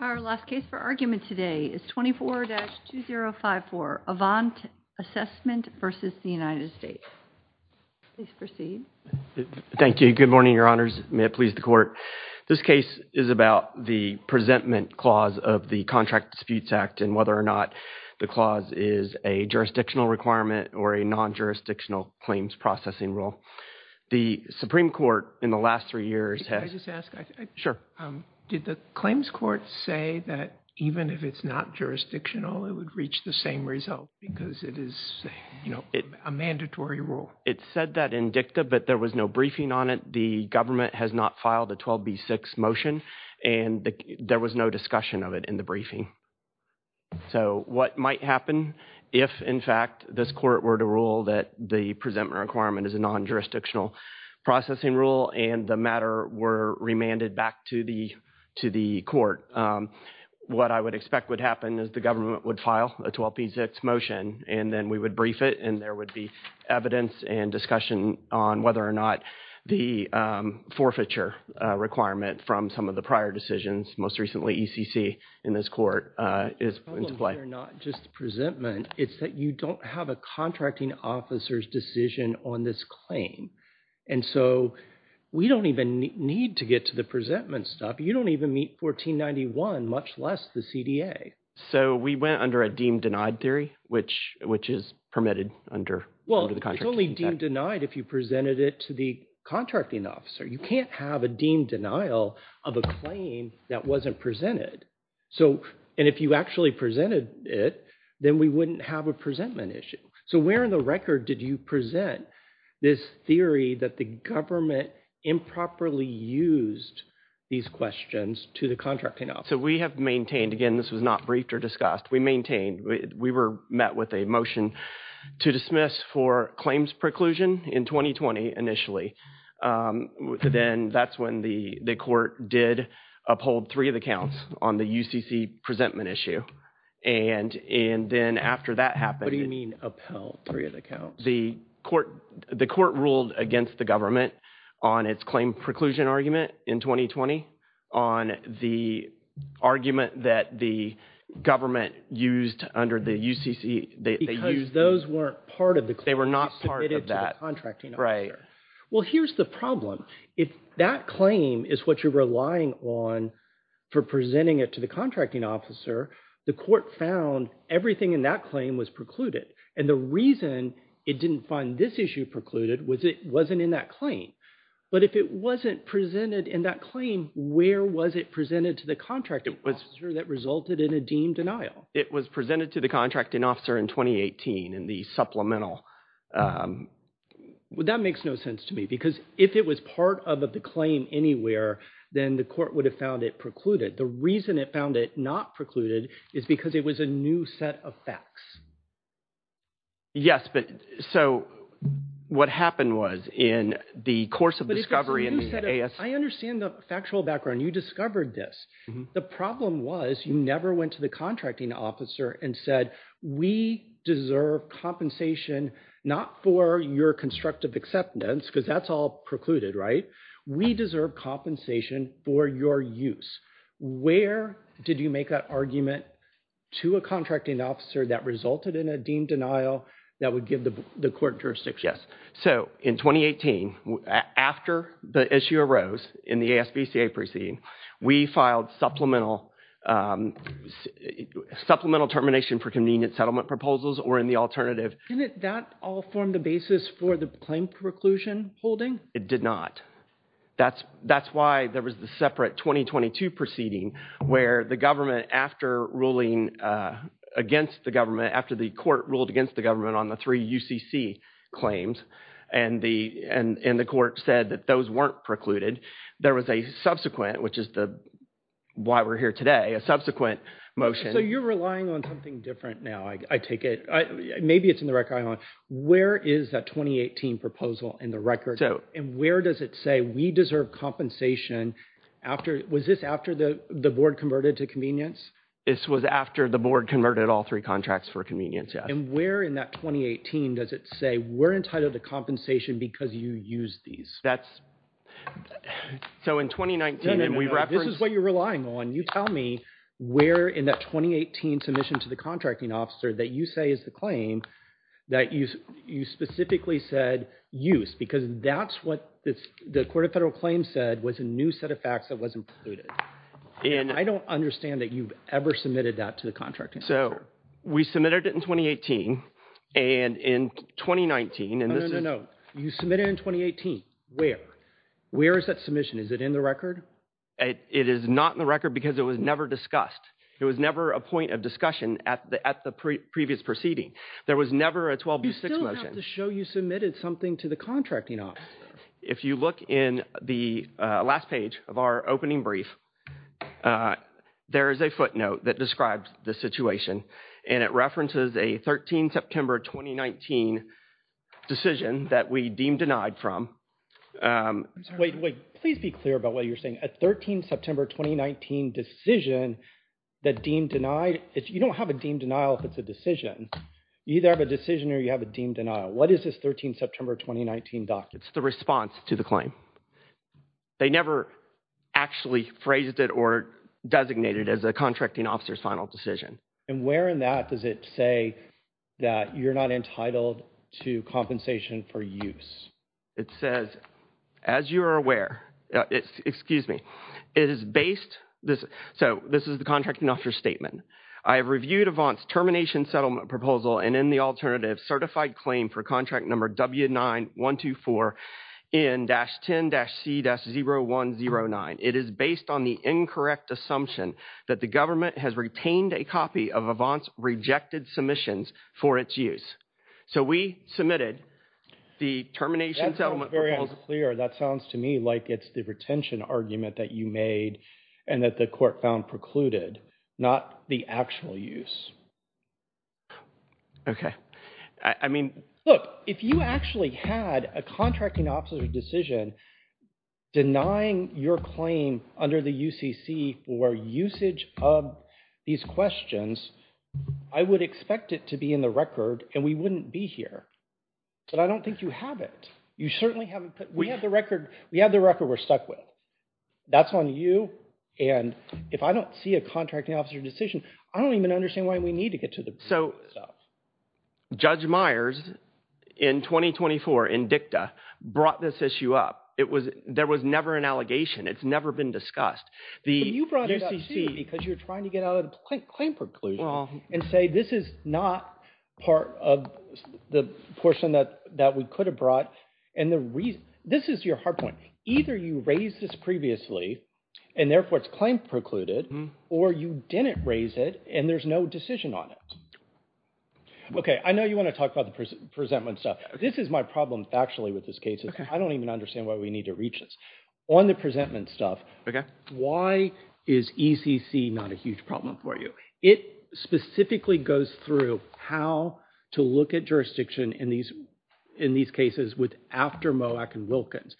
Our last case for argument today is 24-2054, Avant Assessment v. The United States. Please proceed. Thank you. Good morning, Your Honors. May it please the Court. This case is about the Presentment Clause of the Contract Disputes Act and whether or not the clause is a jurisdictional requirement or a non-jurisdictional claims processing rule. The Supreme Court in the last three years has... Did the claims court say that even if it's not jurisdictional, it would reach the same result because it is a mandatory rule? It said that in dicta, but there was no briefing on it. The government has not filed a 12B6 motion and there was no discussion of it in the briefing. So what might happen if, in fact, this court were to rule that the presentment requirement is a non-jurisdictional processing rule and the matter were remanded back to the court? What I would expect would happen is the government would file a 12B6 motion and then we would brief it and there would be evidence and discussion on whether or not the forfeiture requirement from some of the prior decisions, most recently ECC in this court is into play. It's not just the presentment. It's that you don't have a contracting officer's decision on this claim. And so we don't even need to get to the presentment stuff. You don't even meet 1491, much less the CDA. So we went under a deemed denied theory, which is permitted under the contracting act? Well, it's only deemed denied if you presented it to the contracting officer. You can't have a deemed denial of a claim that wasn't presented. And if you actually presented it, then we didn't have a presentment issue. So where in the record did you present this theory that the government improperly used these questions to the contracting officer? So we have maintained, again, this was not briefed or discussed. We maintained, we were met with a motion to dismiss for claims preclusion in 2020 initially. Then that's when the court did uphold three of the counts on the UCC presentment issue. And then after that happened. What do you mean upheld three of the counts? The court ruled against the government on its claim preclusion argument in 2020 on the argument that the government used under the UCC. Because those weren't part of the claim. They were not part of that, right. Well, here's the problem. If that claim is what you're relying on for presenting it to the contracting officer, the court found everything in that claim was precluded. And the reason it didn't find this issue precluded was it wasn't in that claim. But if it wasn't presented in that claim, where was it presented to the contracting officer that resulted in a deemed denial? It was presented to the contracting officer in 2018 in the supplemental. Well, that makes no sense to me. Because if it was part of the claim anywhere, then the court would have found it precluded. The reason it found it not precluded is because it was a new set of facts. Yes, but so what happened was in the course of discovery in the AS. I understand the factual background. You discovered this. The problem was you never went to the contracting officer and said we deserve compensation, not for your constructive acceptance, because that's all precluded, right? We deserve compensation for your use. Where did you make that argument to a contracting officer that resulted in a deemed denial that would give the court jurisdiction? Yes. So in 2018, after the issue arose in the ASVCA proceeding, we filed supplemental termination for convenient settlement proposals or in the alternative. Didn't that all form the basis for the claim preclusion holding? It did not. That's why there was the separate 2022 proceeding where the government, after ruling against the government, after the court ruled against the government on the three UCC claims, and the court said that those weren't precluded, there was a subsequent, which is why we're here today, a subsequent motion. So you're relying on something different now, I take it. Maybe it's in the record I own. Where is that 2018 proposal in the record? And where does it say we deserve compensation after, was this after the board converted to convenience? This was after the board converted all three contracts for convenience, yes. And where in that 2018 does it say we're entitled to compensation because you used these? That's, so in 2019, and we referenced... No, no, no, this is what you're relying on. You tell me where in that 2018 submission to the contracting officer that you say is the claim that you specifically said use, because that's what the court of federal claims said was a new set of facts that wasn't precluded. I don't understand that you've ever submitted that to the contracting officer. So we submitted it in 2018, and in 2019, and this is... No, you submitted it in 2018. Where? Where is that submission? Is it in the record? It is not in the record because it was never discussed. It was never a point of discussion at the previous proceeding. There was never a 12B6 motion. You still have to show you submitted something to the contracting officer. If you look in the last page of our opening brief, there is a footnote that describes the situation, and it references a 13 September 2019 decision that we deemed denied from. Wait, wait, please be clear about what you're saying. A 13 September 2019 decision that deemed denied, you don't have a deemed denial if it's a decision. You either have a decision or you have a deemed denial. What is this 13 September 2019 document? It's the response to the claim. They never actually phrased it or designated it as a contracting officer's final decision. And where in that does it say that you're not entitled to compensation for use? It says, as you are aware, it's, excuse me, it is based, so this is the contracting officer's statement. I have reviewed Avant's termination settlement proposal and in the alternative certified claim for contract number W9124N-10-C-0109. It is based on the incorrect assumption that the government has retained a copy of Avant's rejected submissions for its use. So we submitted the termination settlement proposal. That sounds to me like it's the retention argument that you made and that the court found precluded, not the actual use. Okay. I mean, look, if you actually had a contracting officer's decision denying your claim under the UCC for usage of these questions, I would expect it to be in the record and we wouldn't be here. But I don't think you have it. You certainly haven't put, we have the record, we have the record we're stuck with. That's on you. And if I don't see a contracting officer's decision, I don't even understand why we need to get to the... So Judge Myers in 2024 in dicta brought this issue up. There was never an allegation. It's never been discussed. You brought it up too because you're trying to get out of the claim preclusion and say this is not part of the portion that we could have brought and the reason, this is your hard point. Either you raised this previously and therefore it's claim precluded or you didn't raise it and there's no decision on it. Okay. I know you want to talk about the presentment stuff. This is my problem factually with this case. I don't even understand why we need to reach this. On the presentment stuff, why is ECC not a huge problem for you? It specifically goes through how to look at jurisdiction in these cases with after MOAC and Wilkins.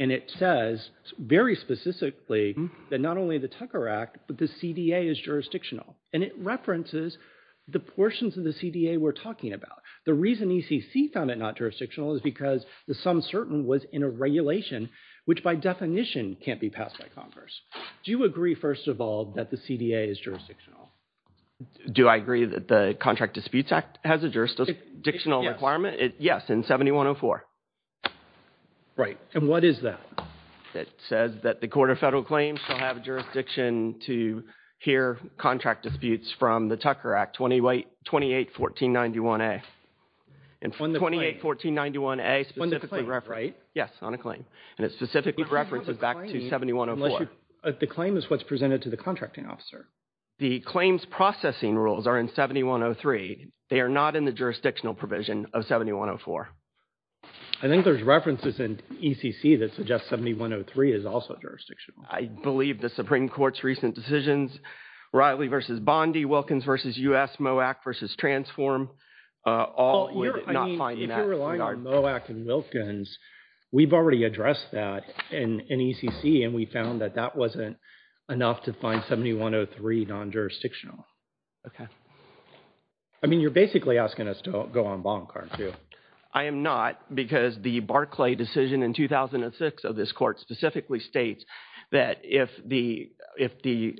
And it says very specifically that not only the Tucker Act, but the CDA is jurisdictional and it references the portions of the CDA we're talking about. The reason ECC found it not jurisdictional is because the sum certain was in a regulation which by definition can't be passed by Congress. Do you agree first of all that the CDA is jurisdictional? Do I agree that the Contract Disputes Act has a jurisdictional requirement? Yes, in 7104. Right. And what is that? It says that the Court of Federal Claims shall have jurisdiction to hear contract disputes from the Tucker Act 281491A. And 281491A specifically referenced. On the claim, right? Yes, on a claim. And it specifically references back to 7104. The claim is what's presented to the contracting officer. The claims processing rules are in 7103. They are not in the jurisdictional provision of 7104. I think there's references in ECC that suggest 7103 is also jurisdictional. I believe the Supreme Court's recent decisions, Riley v. Bondi, Wilkins v. U.S., MOAC v. Transform, all not finding that. If you're relying on MOAC and Wilkins, we've already addressed that in ECC and we found that that wasn't enough to find 7103 non-jurisdictional. Okay. I mean, you're basically asking us to go on bond card too. I am not because the Barclay decision in 2006 of this court specifically states that if the, if the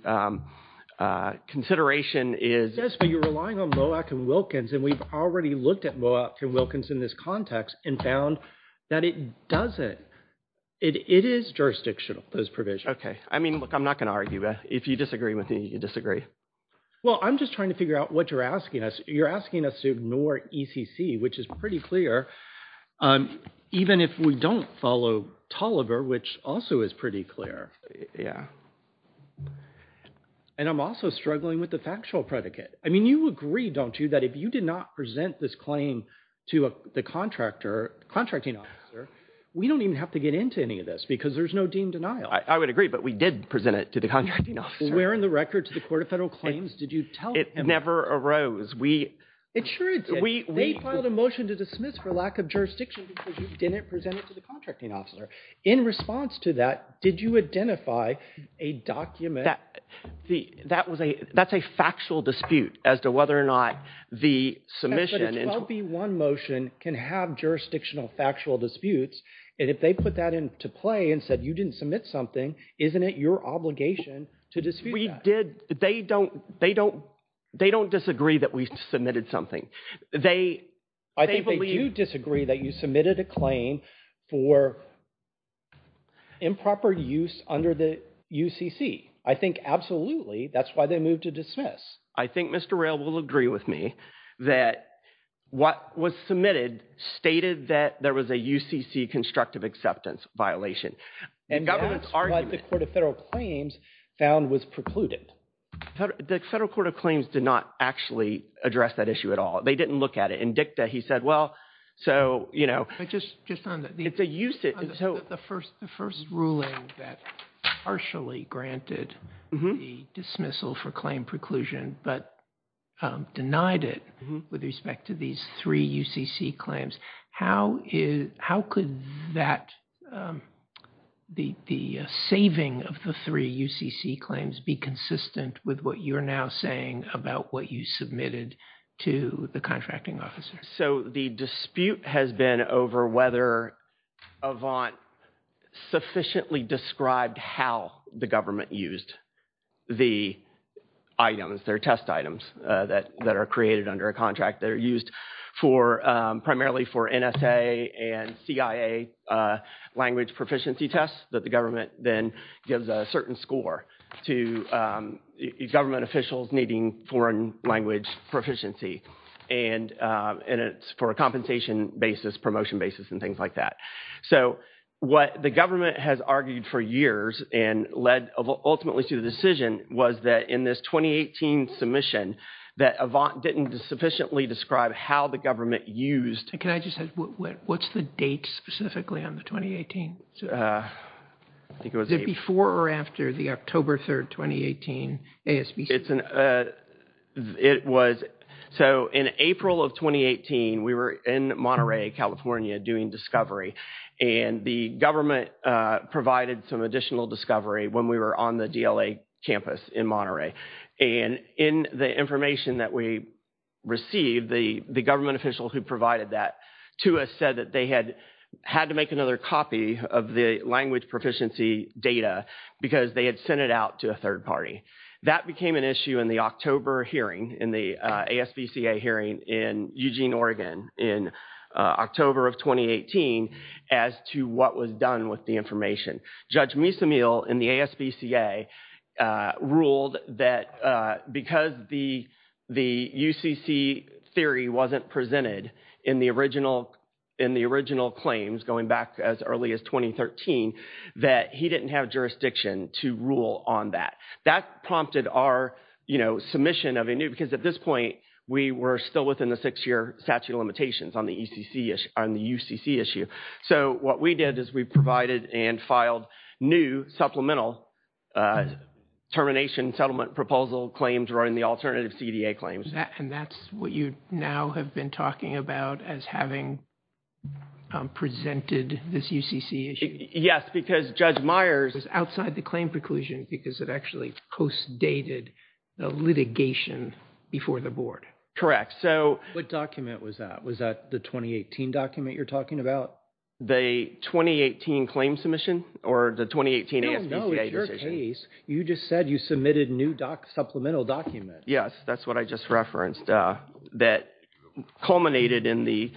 consideration is... Yes, but you're relying on MOAC and Wilkins and we've already looked at MOAC and Wilkins in this context and found that it doesn't, it is jurisdictional, this provision. Okay. I mean, look, I'm not going to argue. If you disagree with me, you disagree. Well, I'm just trying to figure out what you're asking us. You're asking us to ignore ECC, which is pretty clear, even if we don't follow Tolliver, which also is pretty clear. Yeah. And I'm also struggling with the factual predicate. I mean, you agree, don't you, that if you did not present this claim to the contractor, contracting officer, we don't even have to get into any of this because there's no deemed denial. I would agree, but we did present it to the contracting officer. Where in the record to the Court of Federal Claims did you tell him? It never arose. It sure did. They filed a motion to dismiss for lack of jurisdiction because you didn't present it to the contracting officer. In response to that, did you identify a document? That's a factual dispute as to whether or not the submission. But a 12B1 motion can have jurisdictional factual disputes and if they put that into play and said you didn't submit something, isn't it your obligation to dispute that? They don't disagree that we submitted something. I think they do disagree that you submitted a claim for improper use under the UCC. I think absolutely that's why they moved to dismiss. I think Mr. Roehl will agree with me that what was submitted stated that there was a UCC constructive acceptance violation. And that's what the Court of Federal Claims found was precluded. The Federal Court of Claims did not actually address that issue at all. They didn't look at it. In dicta, he said, well, so, you know, the first ruling that partially granted the dismissal for claim preclusion, but denied it with respect to these three UCC claims. How could that, the saving of the three UCC claims be consistent with what you're now saying about what you submitted to the contracting officer? So the dispute has been over whether Avant sufficiently described how the government used the items, their test items, that are created under a contract that are used primarily for NSA and CIA language proficiency tests that the government then gives a certain score to government officials needing foreign language proficiency. And it's for a compensation basis, promotion basis, and things like that. So what the government has argued for years and led ultimately to the decision was that in this 2018 submission that Avant didn't sufficiently describe how the government used Can I just ask, what's the date specifically on the 2018? Is it before or after the October 3rd, 2018 ASBC? It was, so in April of 2018, we were in Monterey, California doing discovery. And the government provided some additional discovery when we were on the DLA campus in Monterey. And in the information that we received, the government official who provided that to us said that they had had to make another copy of the language proficiency data because they had sent it out to a third party. That became an issue in the October hearing, in the ASBC hearing in Eugene, Oregon in October of 2018 as to what was done with the information. Judge Misamil in the ASBCA ruled that because the UCC theory wasn't presented in the original claims going back as early as 2013, that he didn't have jurisdiction to rule on that. That prompted our, you know, submission of a new, because at this point we were still within the six year statute of limitations on the UCC issue. So what we did is we provided and filed new supplemental termination settlement proposal claims or in the alternative CDA claims. And that's what you now have been talking about as having presented this UCC issue? Yes, because Judge Myers was outside the claim preclusion because it actually post dated the litigation before the board. So what document was that? Was that the 2018 document you're talking about? The 2018 claim submission or the 2018 ASBCA decision? No, no, it's your case. You just said you submitted new supplemental document. Yes, that's what I just referenced that culminated in the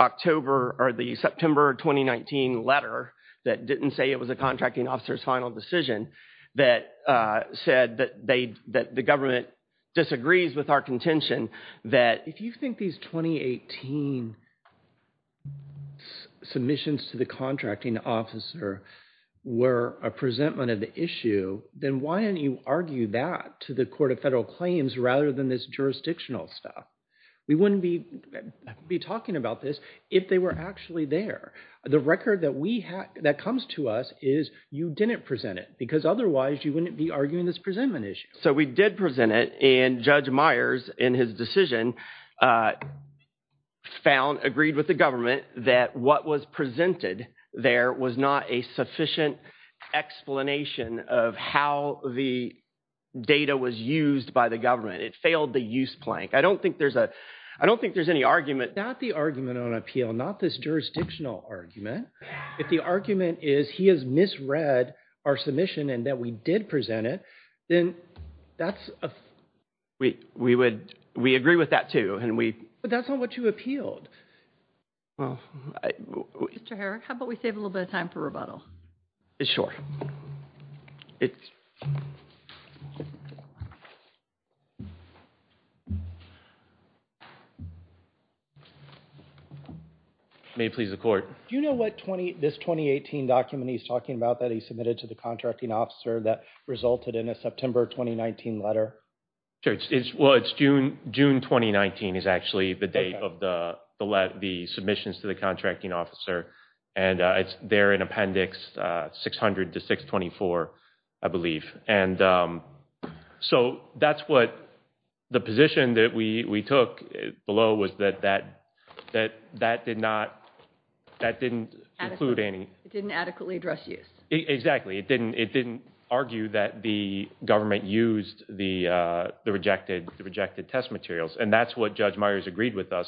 October or the September 2019 letter that didn't say it was a contracting officer's final decision that said that they, that the government disagrees with our contention. If you think these 2018 submissions to the contracting officer were a presentment of the issue, then why didn't you argue that to the court of federal claims rather than this jurisdictional stuff? We wouldn't be talking about this if they were actually there. The record that we have, that comes to us is you didn't present it because otherwise you wouldn't be arguing this presentment issue. So we did present it and Judge Myers in his decision found, agreed with the government that what was presented there was not a sufficient explanation of how the data was used by the government. It failed the use plank. I don't think there's a, I don't think there's any argument. Not the argument on appeal, not this jurisdictional argument. If the argument is he has misread our submission and that we did present it, then that's a we, we would, we agree with that too. And we, but that's not what you appealed. Well, I, Mr. Herrick, how about we save a little bit of time for rebuttal is short. It may please the court. Do you know what 20, this 2018 document he's talking about that he submitted to the contracting officer that resulted in a September, 2019 letter? Sure. It's well, it's June, June, 2019 is actually the date of the, the let the submissions to the contracting officer. And it's there in appendix 600 to 624, I believe. And, um, so that's what the position that we, we took below was that, that, that, that did not, that didn't include any, it didn't adequately address use. Exactly. It didn't, it didn't argue that the government used the, uh, the rejected, the rejected test materials. And that's what judge Myers agreed with us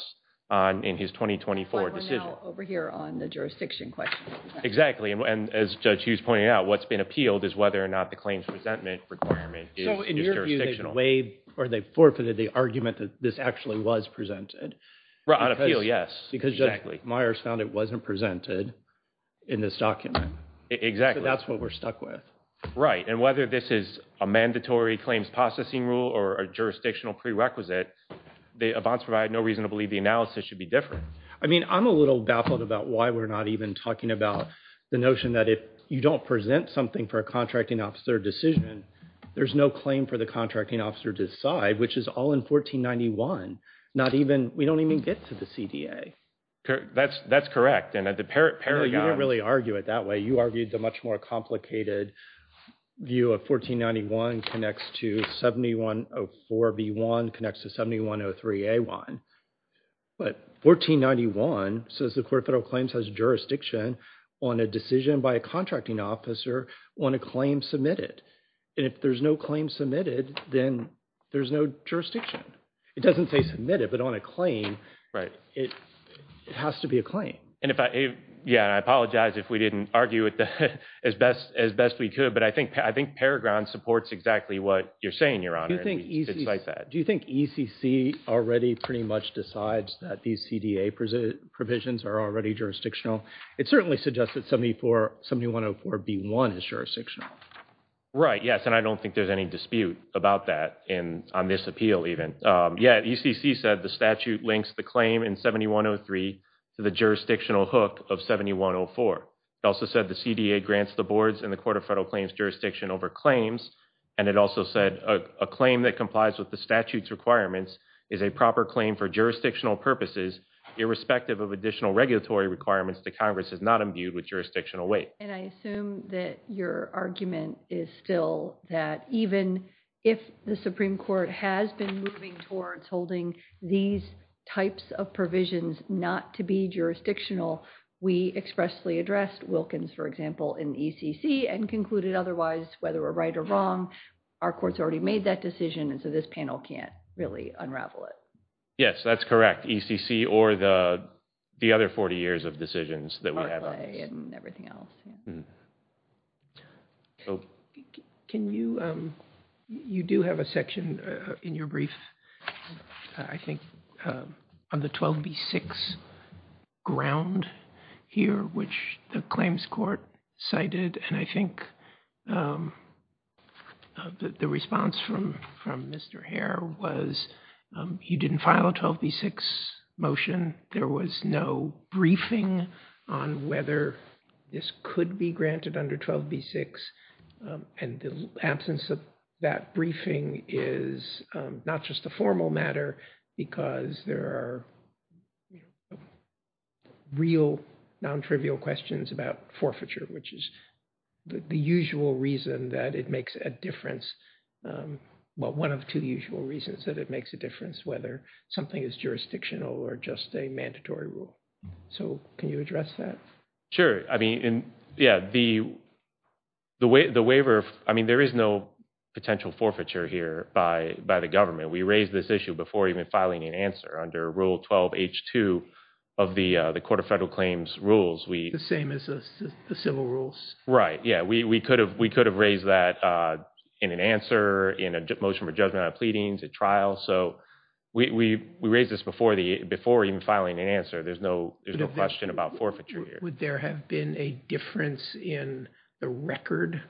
on in his 2024 decision over here on the jurisdiction question. Exactly. And as judge Hughes pointed out, what's been appealed is whether or not the claims resentment requirement is jurisdictional or they forfeited the argument that this actually was presented out of peel. Exactly. Myers found it wasn't presented in this document. Exactly. That's what we're stuck with. Right. And whether this is a mandatory claims processing rule or a jurisdictional prerequisite, they advanced provide no reason to believe the analysis should be different. I mean, I'm a little baffled about why we're not even talking about the notion that if you don't present something for a contracting officer decision, there's no claim for the contracting officer to decide, which is all in 1491. Not even, we don't even get to the CDA. Okay. That's, that's correct. And at the parent paragraph, No, you didn't really argue it that way. You argued the much more complicated view of 1491 connects to 7104B1 connects to 7103A1. But 1491 says the court of federal claims has jurisdiction on a decision by a contracting officer on a claim submitted. And if there's no claim submitted, then there's no jurisdiction. It doesn't say submitted, but on a claim, it has to be a claim. And if I, yeah, I apologize if we didn't argue it as best, as best we could. But I think, I think Peregrine supports exactly what you're saying, your honor. Do you think ECC already pretty much decides that these CDA provisions are already jurisdictional? It certainly suggests that 7104B1 is jurisdictional. Right. Yes. And I don't think there's any dispute about that in this appeal even. Yeah. ECC said the statute links the claim in 7103 to the jurisdictional hook of 7104. It also said the CDA grants the boards and the court of federal claims jurisdiction over claims. And it also said a claim that complies with the statute's requirements is a proper claim for jurisdictional purposes, irrespective of additional regulatory requirements that Congress has not imbued with jurisdictional weight. And I assume that your argument is still that even if the Supreme Court has been moving towards holding these types of provisions not to be jurisdictional, we expressly addressed Wilkins, for example, in ECC and concluded otherwise, whether we're right or wrong, our court's already made that decision, and so this panel can't really unravel it. Yes, that's correct, ECC or the other 40 years of decisions that we have on this. Barclay and everything else, yeah. Can you, you do have a section in your brief, I think, on the 12B6 ground here, which the claims court cited, and I think the response from Mr. Hare was he didn't file a 12B6 motion. There was no briefing on whether this could be granted under 12B6, and the absence of that briefing is not just a formal matter, because there are real, non-trivial questions about forfeiture, which is the usual reason that it makes a difference, well, one of two usual reasons that it makes a difference, whether something is jurisdictional or just a mandatory rule. So can you address that? Sure. I mean, yeah, the waiver, I mean, there is no potential forfeiture here by the government. We raised this issue before even filing an answer under Rule 12H2 of the Court of Federal Claims rules. The same as the civil rules. Right. Yeah, we could have raised that in an answer, in a motion for judgment on pleadings, a trial. So we raised this before even filing an answer. There's no question about forfeiture here. Would there have been a difference in the record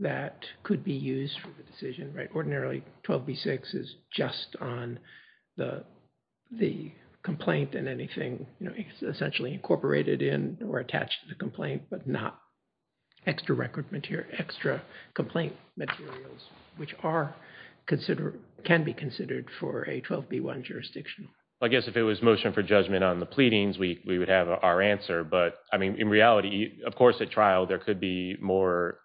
that could be used for the decision, right? But not extra record material, extra complaint materials, which are considered, can be considered for a 12B1 jurisdiction. I guess if it was motion for judgment on the pleadings, we would have our answer. But I mean, in reality, of course, at trial, there could be more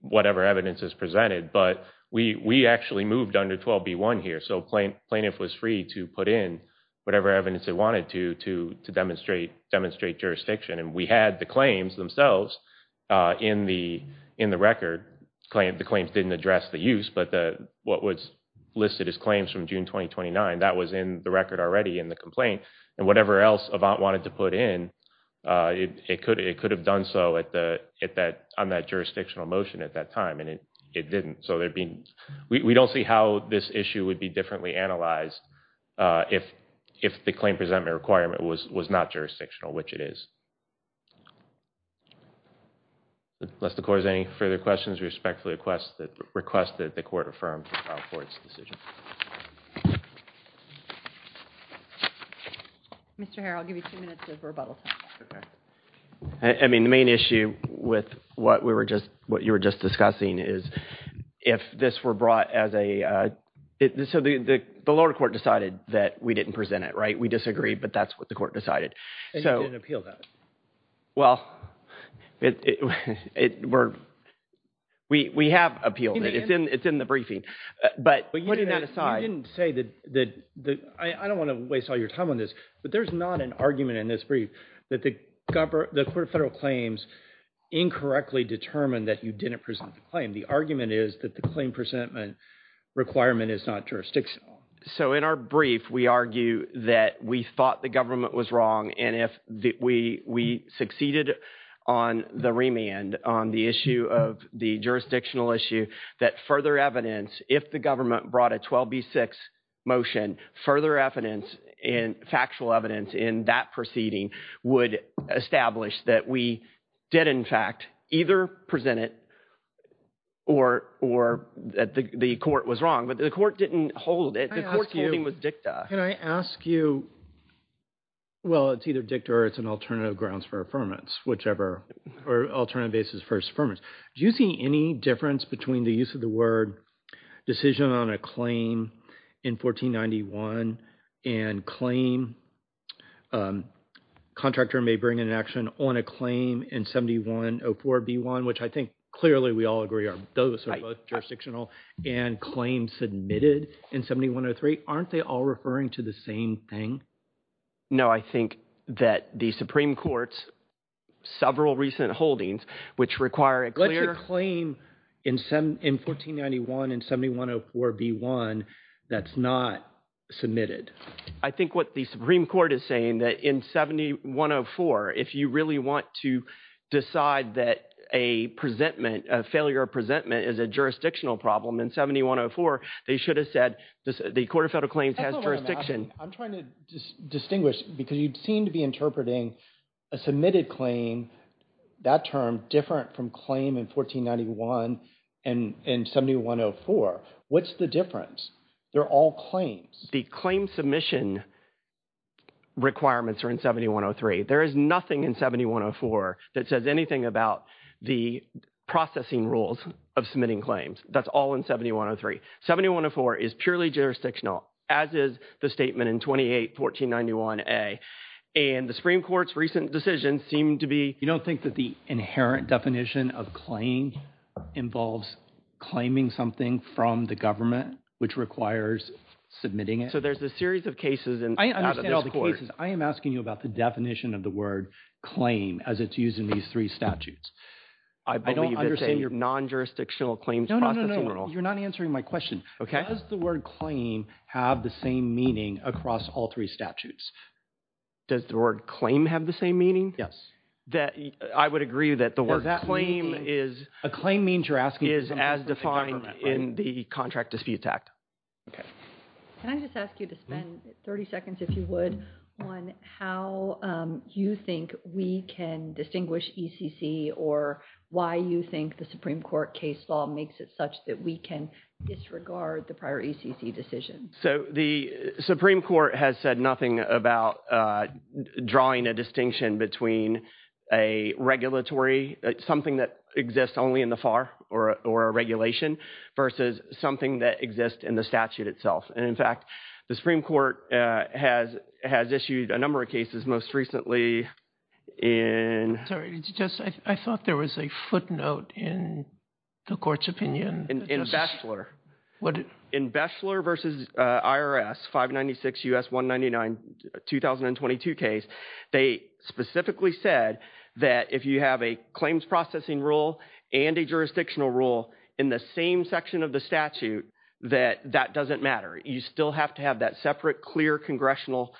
whatever evidence is presented. But we actually moved under 12B1 here. So plaintiff was free to put in whatever evidence they wanted to demonstrate jurisdiction. And we had the claims themselves in the record. The claims didn't address the use. But what was listed as claims from June 2029, that was in the record already in the complaint. And whatever else Avant wanted to put in, it could have done so on that jurisdictional motion at that time. And it didn't. So we don't see how this issue would be differently analyzed if the claim presentment requirement was not jurisdictional, which it is. Unless the court has any further questions, we respectfully request that the court affirm the trial court's decision. Mr. Harrell, I'll give you two minutes of rebuttal time. I mean, the main issue with what you were just discussing is if this were brought as a, so the lower court decided that we didn't present it, right? We disagree. But that's what the court decided. And you didn't appeal that? Well, we have appealed it. It's in the briefing. But putting that aside. But you didn't say that, I don't want to waste all your time on this, but there's not an argument in this brief that the court of federal claims incorrectly determined that you didn't present the claim. The argument is that the claim presentment requirement is not jurisdictional. So in our brief, we argue that we thought the government was wrong. And if we succeeded on the remand on the issue of the jurisdictional issue, that further evidence, if the government brought a 12B6 motion, further evidence and factual evidence in that proceeding would establish that we did, in fact, either present it or that the court was wrong. But the court didn't hold it. The court's holding was dicta. Can I ask you, well, it's either dicta or it's an alternative grounds for affirmance, whichever, or alternative basis for affirmance. Do you see any difference between the use of the word decision on a claim in 1491 and claim, contractor may bring an action on a claim in 7104B1, which I think clearly we all agree are both jurisdictional and claim submitted in 7103, aren't they all referring to the same thing? No, I think that the Supreme Court's several recent holdings, which require a clear Let's say a claim in 1491 and 7104B1 that's not submitted. I think what the Supreme Court is saying that in 7104, if you really want to decide that a presentment, a failure of presentment is a jurisdictional problem in 7104, they should have said the Court of Federal Claims has jurisdiction. I'm trying to distinguish because you seem to be interpreting a submitted claim, that term different from claim in 1491 and 7104. What's the difference? They're all claims. The claim submission requirements are in 7103. There is nothing in 7104 that says anything about the processing rules of submitting claims. That's all in 7103. 7104 is purely jurisdictional, as is the statement in 281491A, and the Supreme Court's recent decision seemed to be You don't think that the inherent definition of claim involves claiming something from the government, which requires submitting it? So there's a series of cases. I understand all the cases. I am asking you about the definition of the word claim as it's used in these three statutes. I don't understand your non-jurisdictional claims processing rules. No, no, no, you're not answering my question. Does the word claim have the same meaning across all three statutes? Does the word claim have the same meaning? Yes. I would agree that the word claim is a claim means you're asking is as defined in the Contract Disputes Act. Okay. Can I just ask you to spend 30 seconds, if you would, on how you think we can distinguish ECC or why you think the Supreme Court case law makes it such that we can disregard the prior ECC decision? So the Supreme Court has said nothing about drawing a distinction between a regulatory, something that exists only in the FAR or a regulation versus something that exists in the statute itself. And, in fact, the Supreme Court has issued a number of cases most recently in Sorry. I thought there was a footnote in the Court's opinion. In Beschler. In Beschler versus IRS, 596 U.S. 199, 2022 case, they specifically said that if you have a claims processing rule and a jurisdictional rule in the same section of the statute that doesn't matter. You still have to have that separate, clear congressional,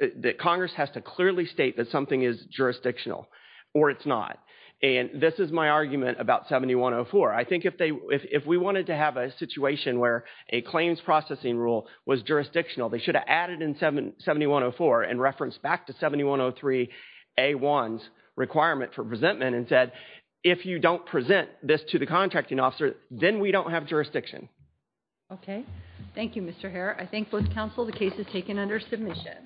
that Congress has to clearly state that something is jurisdictional or it's not. And this is my argument about 7104. I think if we wanted to have a situation where a claims processing rule was jurisdictional, they should have added in 7104 and referenced back to 7103A1's requirement for presentment and said if you don't present this to the contracting officer, then we don't have jurisdiction. Okay. Thank you, Mr. Herr. I thank both counsel. The case is taken under submission.